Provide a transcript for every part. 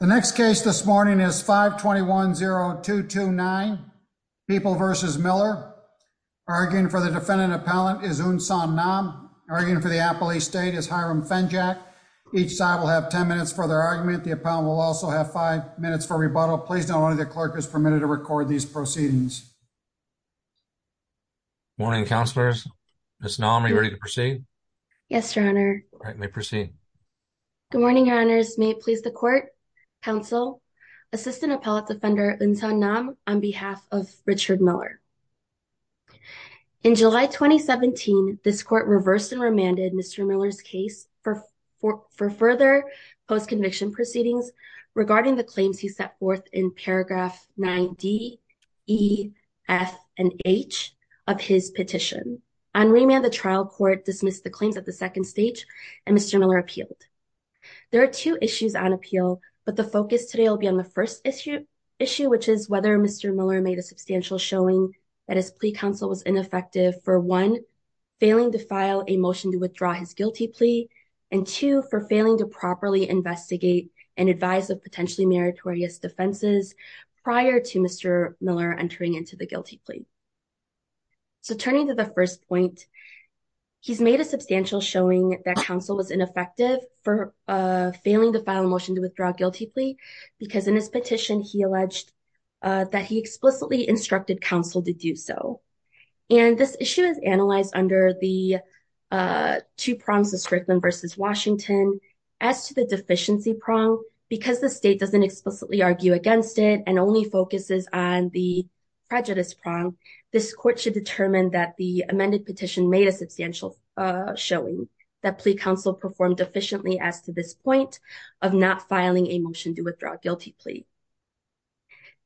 The next case this morning is 521-0229, People v. Miller. Arguing for the defendant appellant is Unsan Nam. Arguing for the appellee state is Hiram Fenjak. Each side will have 10 minutes for their argument. The appellant will also have 5 minutes for rebuttal. Please note only the clerk is permitted to record these proceedings. Morning, counselors. Ms. Nam, are you ready to proceed? Yes, Your Honor. All right, you may proceed. Good morning, Your Honors. May it please the court, counsel, Assistant Appellate Defender Unsan Nam, on behalf of Richard Miller. In July 2017, this court reversed and remanded Mr. Miller's case for further post-conviction proceedings regarding the claims he set forth in paragraph 9D, E, F, and H of his petition. On remand, the trial court dismissed the claims at the second stage and Mr. Miller appealed. There are two issues on appeal, but the focus today will be on the first issue, which is whether Mr. Miller made a substantial showing that his plea counsel was ineffective for, one, failing to file a motion to withdraw his guilty plea, and, two, for failing to properly investigate and advise of potentially meritorious defenses prior to Mr. Miller entering into the guilty plea. So turning to the first point, he's made a substantial showing that counsel was ineffective for failing to file a motion to withdraw a guilty plea because in his petition, he alleged that he explicitly instructed counsel to do so. And this issue is analyzed under the two prongs, the Strickland versus Washington. As to the deficiency prong, because the state doesn't explicitly argue against it and only focuses on the prejudice prong, this court should determine that the amended petition made a substantial showing, that plea counsel performed efficiently as to this point of not filing a motion to withdraw a guilty plea.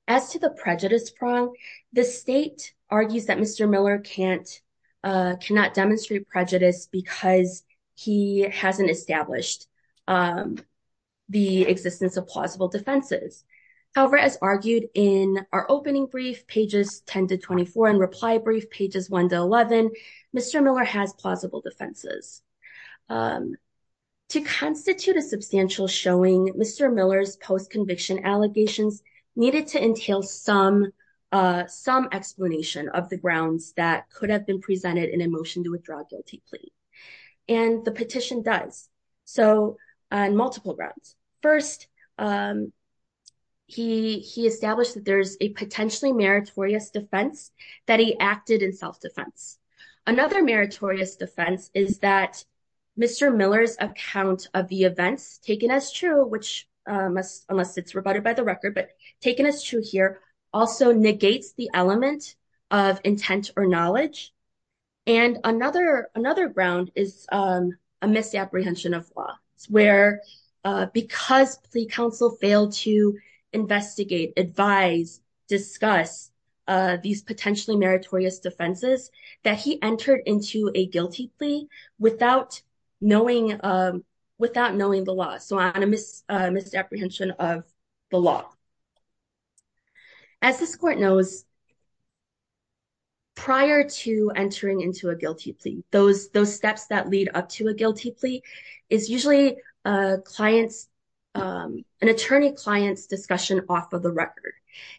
As to the prejudice prong, the state argues that Mr. Miller cannot demonstrate prejudice because he hasn't established the existence of plausible defenses. However, as argued in our opening brief, pages 10 to 24, and reply brief pages 1 to 11, Mr. Miller has plausible defenses. To constitute a substantial showing, Mr. Miller's post-conviction allegations needed to entail some explanation of the grounds that could have been presented in a motion to withdraw a guilty plea. And the petition does, on multiple grounds. First, he established that there's a potentially meritorious defense that he acted in self-defense. Another meritorious defense is that Mr. Miller's account of the events taken as true, which unless it's rebutted by the record, but taken as true here, also negates the element of intent or knowledge. And another ground is a misapprehension of law, where because plea counsel failed to investigate, advise, discuss these potentially meritorious defenses, that he entered into a guilty plea without knowing the law. So a misapprehension of the law. As this court knows, prior to entering into a guilty plea, those steps that lead up to a guilty plea is usually an attorney-client's discussion off of the record.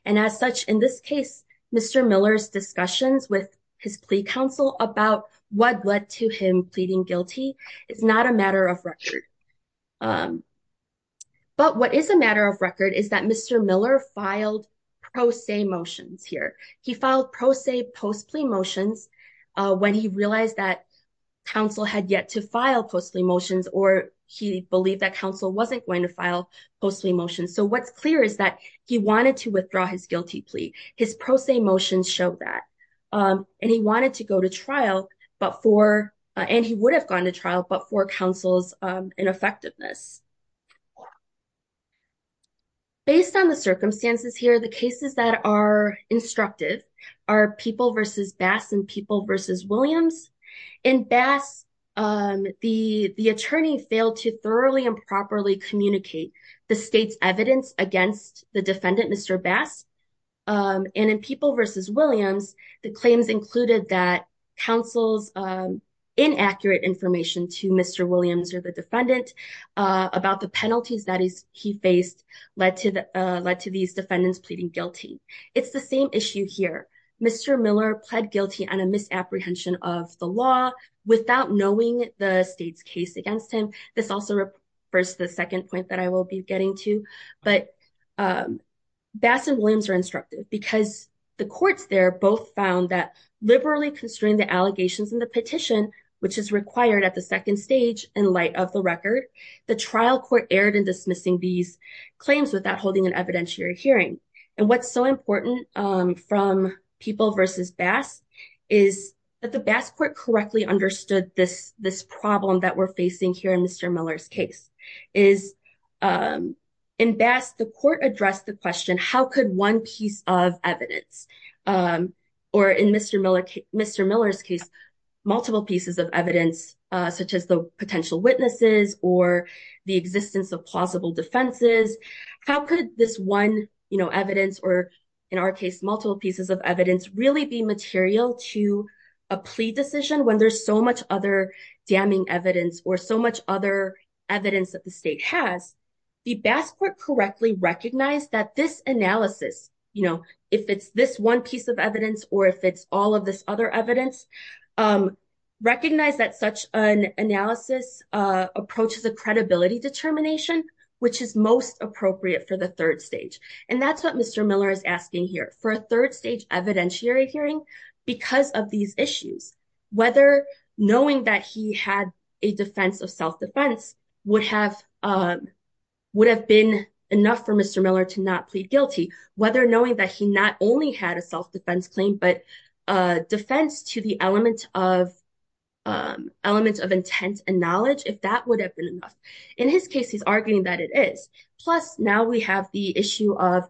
And as such, in this case, Mr. Miller's discussions with his plea counsel about what led to him pleading guilty is not a matter of record. But what is a matter of record is that Mr. Miller filed pro se motions here. He filed pro se post plea motions when he realized that counsel had yet to file post plea motions or he believed that counsel wasn't going to file post plea motions. So what's clear is that he wanted to withdraw his guilty plea. His pro se motions showed that. And he wanted to go to trial, and he would have gone to trial, but for counsel's ineffectiveness. Based on the circumstances here, the cases that are instructive are People v. Bass and People v. Williams. In Bass, the attorney failed to thoroughly and properly communicate the state's evidence against the defendant, Mr. Bass. And in People v. Williams, the claims included that counsel's inaccurate information to Mr. Williams or the defendant about the penalties that he faced led to these defendants pleading guilty. It's the same issue here. Mr. Miller pled guilty on a misapprehension of the law without knowing the state's case against him. This also refers to the second point that I will be getting to. But Bass and Williams are instructive because the courts there both found that the allegations in the petition, which is required at the second stage in light of the record, the trial court erred in dismissing these claims without holding an evidentiary hearing. And what's so important from People v. Bass is that the Bass court correctly understood this problem that we're facing here in Mr. Miller's case. In Bass, the court addressed the question, how could one piece of evidence? Or in Mr. Miller's case, multiple pieces of evidence such as the potential witnesses or the existence of plausible defenses. How could this one evidence or, in our case, multiple pieces of evidence really be material to a plea decision when there's so much other damning evidence or so much other evidence that the state has? The Bass court correctly recognized that this analysis, if it's this one piece of evidence or if it's all of this other evidence, recognized that such an analysis approaches a credibility determination, which is most appropriate for the third stage. And that's what Mr. Miller is asking here for a third stage evidentiary hearing because of these issues, whether knowing that he had a defense of self-defense would have would have been enough for Mr. Miller to not plead guilty, whether knowing that he not only had a self-defense claim, but a defense to the element of element of intent and knowledge, if that would have been enough. In his case, he's arguing that it is. Plus, now we have the issue of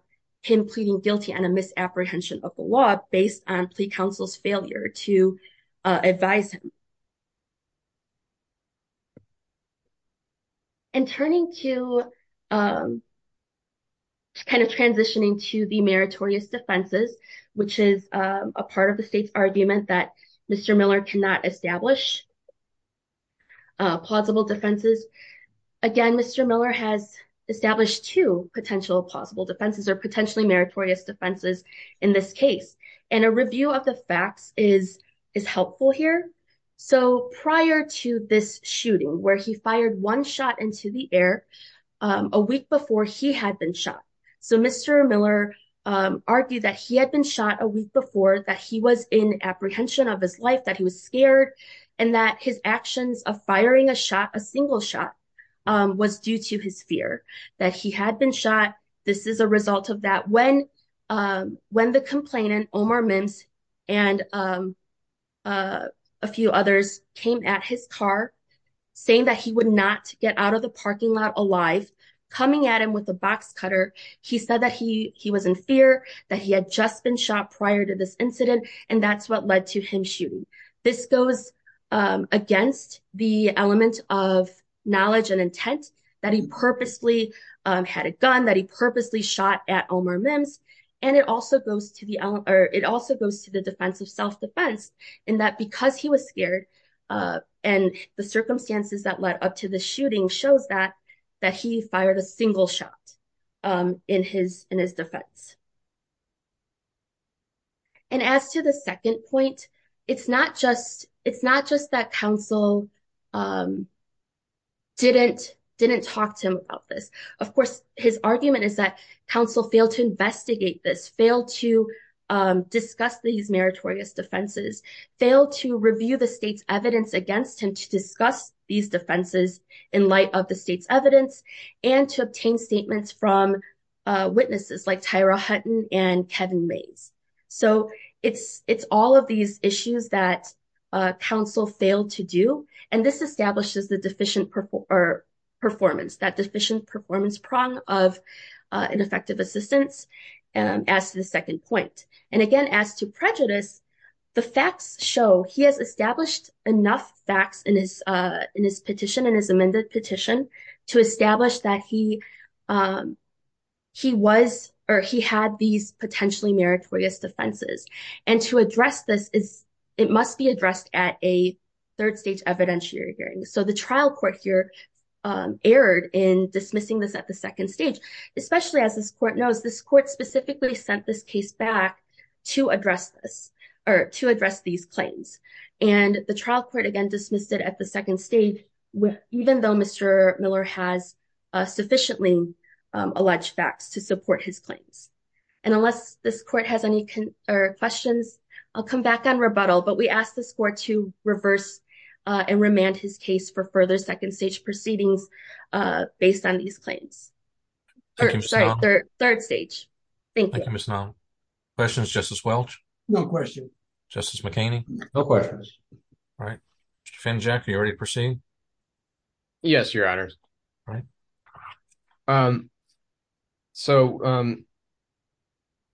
him pleading guilty and a misapprehension of the law based on plea counsel's failure to advise him. And turning to kind of transitioning to the meritorious defenses, which is a part of the state's argument that Mr. Miller cannot establish plausible defenses. Again, Mr. Miller has established two potential possible defenses or potentially meritorious defenses in this case. And a review of the facts is is helpful here. So prior to this shooting where he fired one shot into the air a week before he had been shot. So Mr. Miller argued that he had been shot a week before, that he was in apprehension of his life, that he was scared, and that his actions of firing a shot, a single shot, was due to his fear that he had been shot. This is a result of that. When when the complainant, Omar Mintz, and a few others came at his car, saying that he would not get out of the parking lot alive, coming at him with a box cutter. He said that he he was in fear that he had just been shot prior to this incident. And that's what led to him shooting. This goes against the element of knowledge and intent that he purposely had a gun, that he purposely shot at Omar Mintz. And it also goes to the defense of self-defense, in that because he was scared and the circumstances that led up to the shooting shows that that he fired a single shot in his defense. And as to the second point, it's not just it's not just that counsel didn't didn't talk to him about this. Of course, his argument is that counsel failed to investigate this, failed to discuss these meritorious defenses, failed to review the state's evidence against him to discuss these defenses in light of the state's evidence and to obtain statements from witnesses like Tyra Hutton and Kevin Mays. So it's it's all of these issues that counsel failed to do. And this establishes the deficient performance, that deficient performance prong of ineffective assistance. And as to the second point, and again, as to prejudice, the facts show he has established enough facts in his petition and his amended petition to establish that he he was or he had these potentially meritorious defenses. And to address this is it must be addressed at a third stage evidentiary hearing. So the trial court here erred in dismissing this at the second stage, especially as this court knows, this court specifically sent this case back to address this or to address these claims. And the trial court again dismissed it at the second stage, even though Mr. Miller has sufficiently alleged facts to support his claims. And unless this court has any questions, I'll come back on rebuttal. But we ask this court to reverse and remand his case for further second stage proceedings based on these claims. Third stage. Thank you. Questions. Justice Welch. No question. Justice McCain. No questions. All right. Jack, you already proceed. Yes, your honor. So.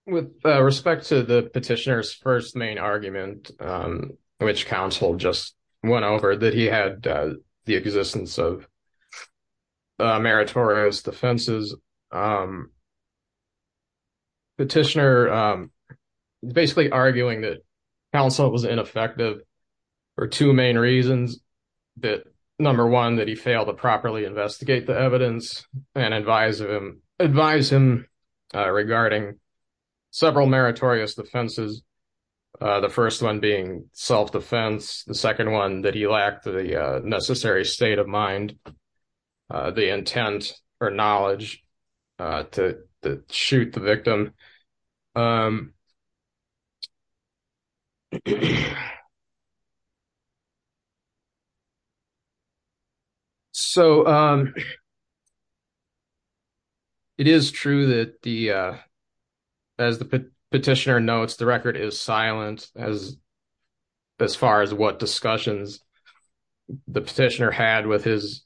With respect to the petitioner's first main argument, which counsel just went over that he had the existence of meritorious defenses. Petitioner basically arguing that counsel was ineffective for two main reasons. Number one, that he failed to properly investigate the evidence and advise him regarding several meritorious defenses. The first one being self-defense. The second one, that he lacked the necessary state of mind, the intent or knowledge to shoot the victim. So. It is true that the. As the petitioner notes, the record is silent as. As far as what discussions the petitioner had with his.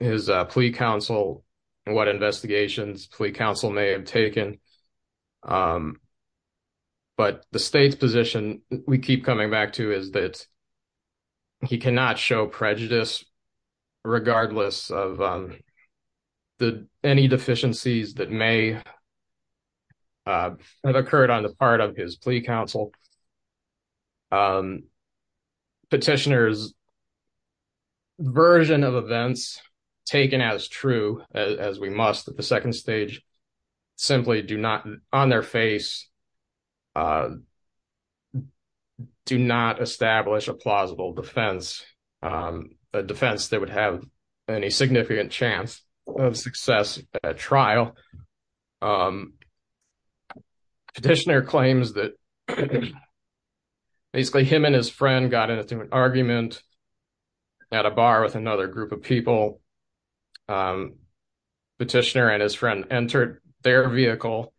Is a plea counsel and what investigations plea counsel may have taken. But the state's position we keep coming back to is that. He cannot show prejudice. Regardless of the any deficiencies that may. Have occurred on the part of his plea counsel. Petitioners. Version of events taken as true as we must at the second stage. Simply do not on their face. Do not establish a plausible defense. A defense that would have any significant chance of success at trial. Petitioner claims that. Basically, him and his friend got into an argument. At a bar with another group of people. Petitioner and his friend entered their vehicle.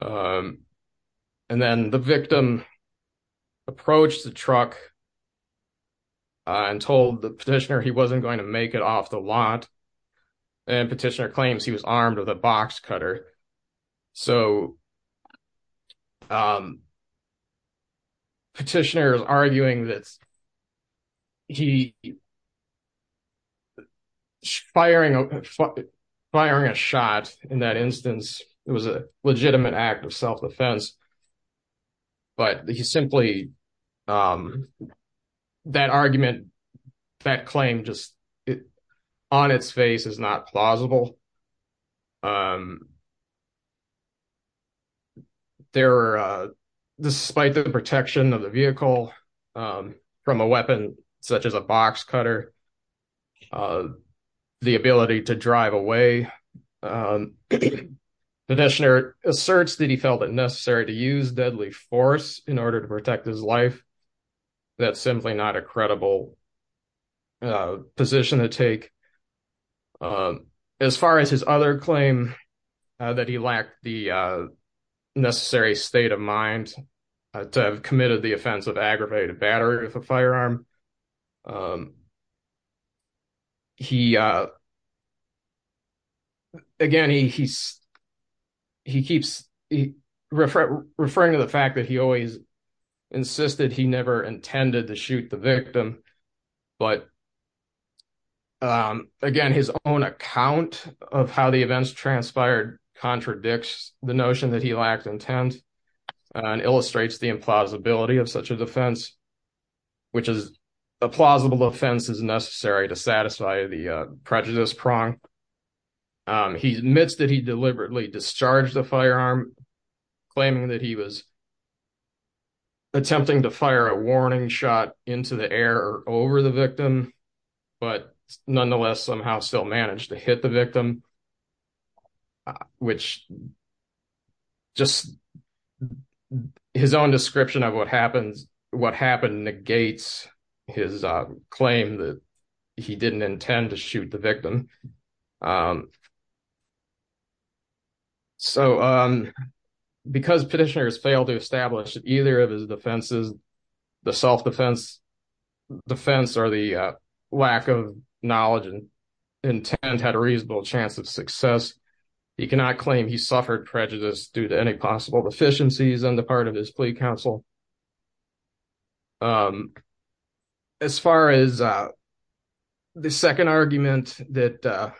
And then the victim. Approach the truck and told the petitioner he wasn't going to make it off the lot. And petitioner claims he was armed with a box cutter. So. Petitioners arguing that. He. Firing firing a shot in that instance. It was a legitimate act of self-defense. But he simply. That argument that claim just. On its face is not plausible. There. Despite the protection of the vehicle. From a weapon, such as a box cutter. The ability to drive away. Asserts that he felt it necessary to use deadly force in order to protect his life. That's simply not a credible. Position to take. As far as his other claim. That he lacked the necessary state of mind. To have committed the offense of aggravated battery with a firearm. Um, he. Again, he he's. He keeps referring to the fact that he always. Insisted he never intended to shoot the victim. But, um, again, his own account of how the events transpired. Contradicts the notion that he lacked intent. And illustrates the implausibility of such a defense. Which is a plausible offense is necessary to satisfy the prejudice prong. He admits that he deliberately discharged the firearm. Claiming that he was. Attempting to fire a warning shot into the air over the victim. But nonetheless, somehow still managed to hit the victim. Which just. His own description of what happens. What happened negates his claim that. He didn't intend to shoot the victim. Um, so, um. Because petitioners fail to establish either of his defenses. The self defense defense, or the, uh. Lack of knowledge and intent had a reasonable chance of success. He cannot claim he suffered prejudice due to any possible deficiencies on the part of his plea council. Um, as far as. The 2nd argument that, uh.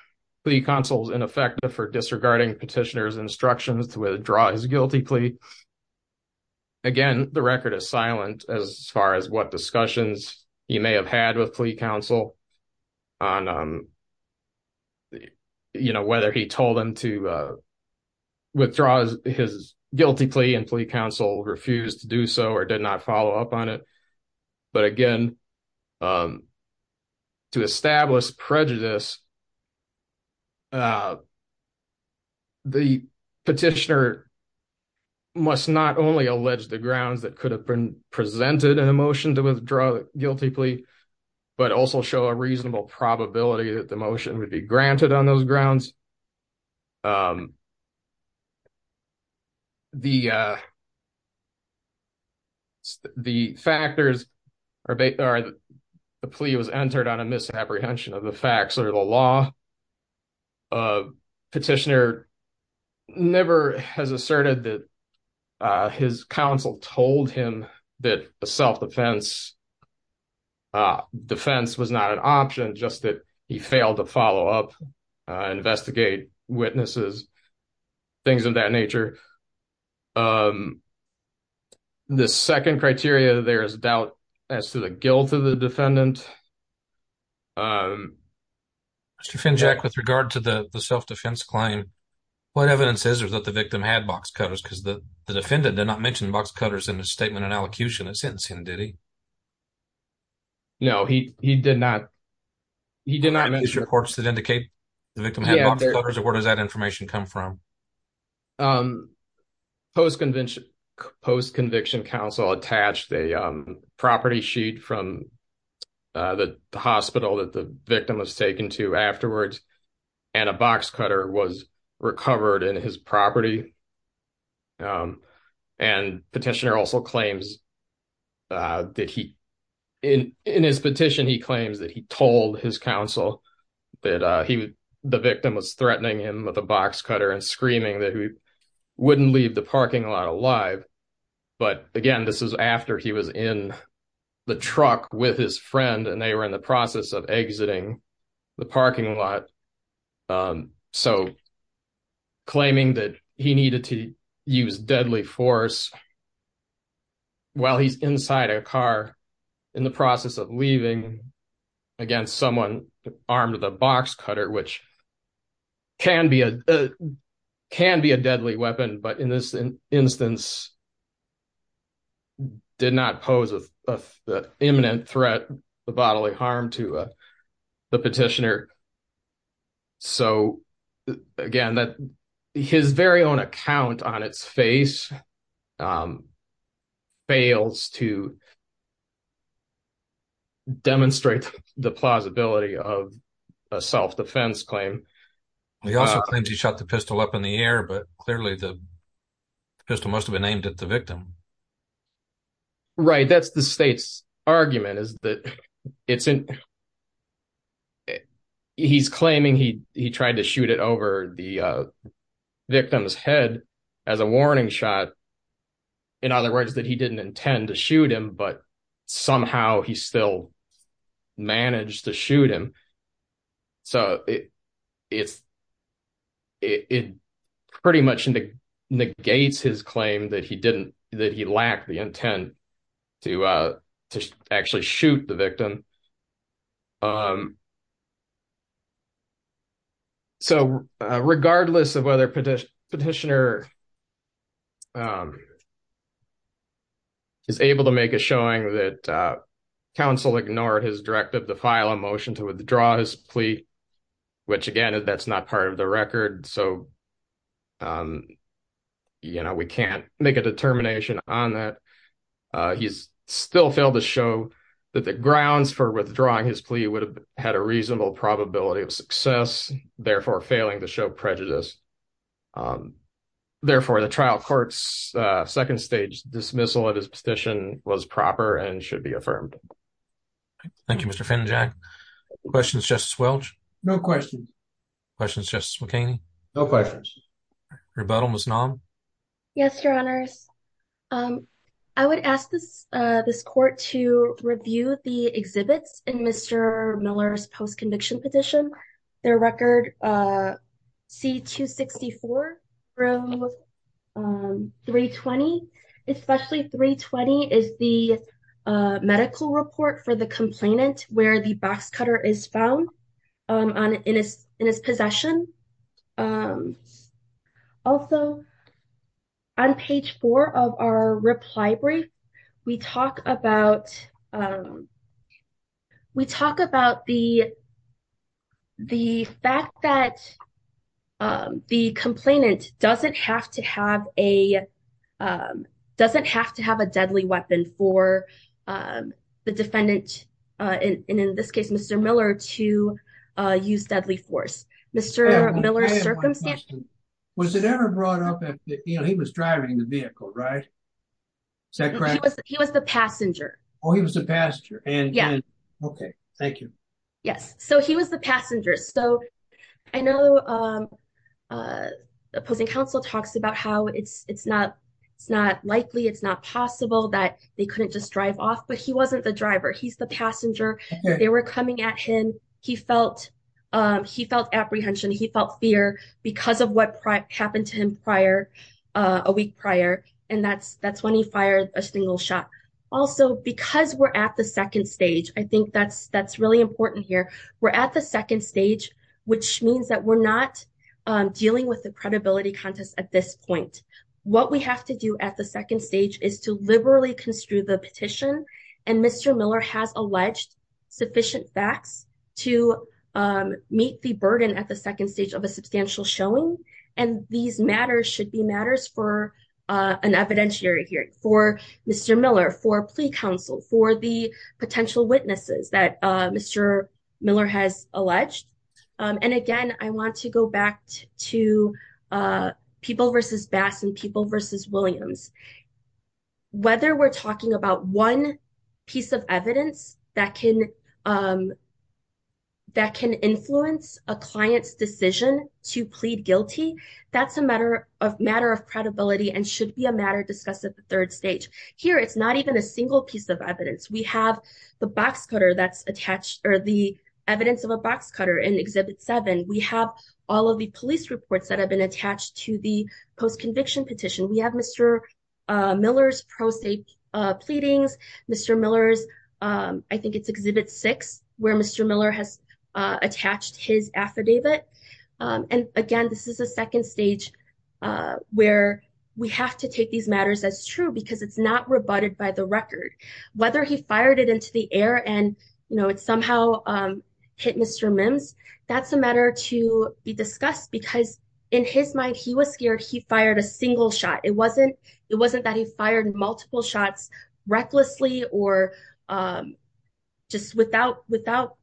The console is ineffective for disregarding petitioners instructions to withdraw his guilty plea. Again, the record is silent as far as what discussions. You may have had with plea counsel. On, um. You know, whether he told them to, uh. Withdraw his guilty plea and plea counsel refused to do so, or did not follow up on it. But again, um. To establish prejudice, uh. The petitioner must not only allege the grounds that could have been presented an emotion to withdraw guilty plea. But also show a reasonable probability that the motion would be granted on those grounds. Um, the, uh. The factors. The plea was entered on a misapprehension of the facts or the law. Petitioner never has asserted that. Uh, his counsel told him that the self defense. Defense was not an option, just that he failed to follow up. Investigate witnesses, things of that nature. Um, the 2nd criteria, there is a doubt. As to the guilt of the defendant. Um, Jack, with regard to the self defense claim. What evidence is, or that the victim had box cutters because the defendant did not mention box cutters in the statement and allocution of sentencing. Did he. No, he, he did not. He did not mention reports that indicate. Where does that information come from? Post convention post conviction counsel attached a property sheet from. The hospital that the victim was taken to afterwards. And a box cutter was recovered in his property. Um, and petitioner also claims. Uh, did he in in his petition, he claims that he told his counsel. That, uh, he, the victim was threatening him with a box cutter and screaming that he. Wouldn't leave the parking lot alive, but again, this is after he was in. The truck with his friend, and they were in the process of exiting. The parking lot, um, so. Claiming that he needed to use deadly force. While he's inside a car. In the process of leaving. Again, someone armed with a box cutter, which. Can be a can be a deadly weapon, but in this instance. Did not pose a imminent threat. The bodily harm to the petitioner. So, again, that. His very own account on its face. Um, fails to. Demonstrate the plausibility of. A self defense claim. He also claims he shot the pistol up in the air, but clearly the. Pistol must have been named at the victim. Right that's the state's argument is that it's. He's claiming he, he tried to shoot it over the. Victim's head as a warning shot. In other words that he didn't intend to shoot him, but. Somehow he still managed to shoot him. So, it's. It pretty much. Negates his claim that he didn't that he lacked the intent. To, uh, to actually shoot the victim. Um, so. Regardless of whether petition petitioner. Um, is able to make a showing that. Council ignored his directive to file a motion to withdraw his plea. Which again, that's not part of the record. So. Um, you know, we can't make a determination on that. He's still failed to show. That the grounds for withdrawing his plea would have had a reasonable probability of success. Therefore failing to show prejudice. Um, therefore the trial courts. Uh, 2nd stage dismissal of his petition was proper and should be affirmed. Thank you, Mr. Questions just swell. No question. Questions just. No questions. Rebuttal. Yes, your honors. I would ask this, uh, this court to review the exhibits and Mr. Miller's post-conviction petition. Their record. C2, 64. 320. Especially 320 is the. Uh, medical report for the complainant where the box cutter is found. Um, on in his, in his possession. Um, also. On page four of our reply brief. We talk about, um, We talk about the. The fact that. Um, the complainant doesn't have to have a. Um, doesn't have to have a deadly weapon for, um, the defendant. Uh, and in this case, Mr. Miller to, uh, use deadly force. Mr. Miller. Um, I'm going to ask you a question. Was it ever brought up? You know, he was driving the vehicle, right? He was the passenger. Oh, he was the pastor. Okay. Thank you. Yes. So he was the passenger. So. I know. Um, Uh, The opposing council talks about how it's, it's not. It's not likely. It's not possible that they couldn't just drive off, but he wasn't the driver. He's the passenger. They were coming at him. He felt. Um, he felt apprehension. He felt fear. Because of what happened to him prior a week prior. And that's, that's when he fired a single shot. Also, because we're at the second stage, I think that's, that's really important here. We're at the second stage, which means that we're not dealing with the credibility contest at this point. What we have to do at the second stage is to liberally construe the petition. And Mr. Miller has alleged sufficient facts to, um, meet the burden at the second stage of a substantial showing. And these matters should be matters for, uh, an evidentiary hearing for Mr. Miller for plea council for the potential witnesses that, uh, Mr. Miller has alleged. Um, and again, I want to go back to, uh, people versus bass and people versus Williams. Whether we're talking about one piece of evidence that can, um, that can influence a client's decision to plead guilty. That's a matter of matter of credibility and should be a matter discussed at the third stage here. It's not even a single piece of evidence. We have the box cutter that's attached or the evidence of a box cutter in exhibit seven. We have all of the police reports that have been attached to the post conviction petition. We have Mr. Miller's pro safe, uh, pleadings, Mr. Miller's, um, I think it's exhibit six where Mr. Miller has, uh, attached his affidavit. Um, and again, this is a second stage, uh, where we have to take these matters as true because it's not rebutted by the record, whether he fired it into the air and, you know, it's somehow, um, hit Mr. Mims that's a matter to be discussed because in his mind, he was scared. He fired a single shot. It wasn't, it wasn't that he fired multiple shots recklessly or, um, just without, without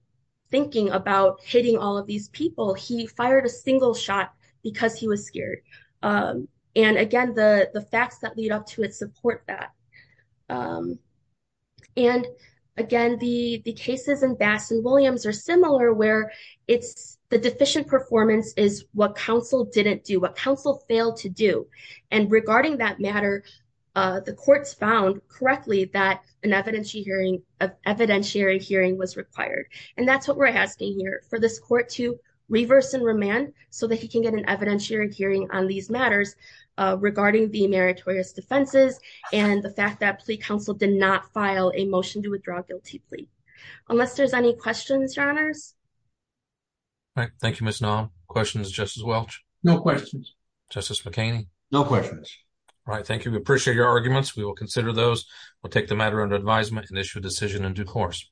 thinking about hitting all of these people, he fired a single shot because he was scared. Um, and again, the, the facts that lead up to it support that. Um, and again, the cases in Bass and Williams are similar where it's the deficient performance is what council didn't do, what council failed to do. And regarding that matter, uh, the court's found correctly that an evidentiary hearing of evidentiary hearing was required. And that's what we're asking here for this court to reverse and remand so that he can get an evidentiary hearing on these matters, uh, regarding the meritorious defenses and the fact that plea council did not file a motion to withdraw guilty plea. Unless there's any questions, your honors. Thank you, Ms. McCain. No questions, right? Thank you. We appreciate your arguments. We will consider those. We'll take the matter under advisement and issue a decision in due course.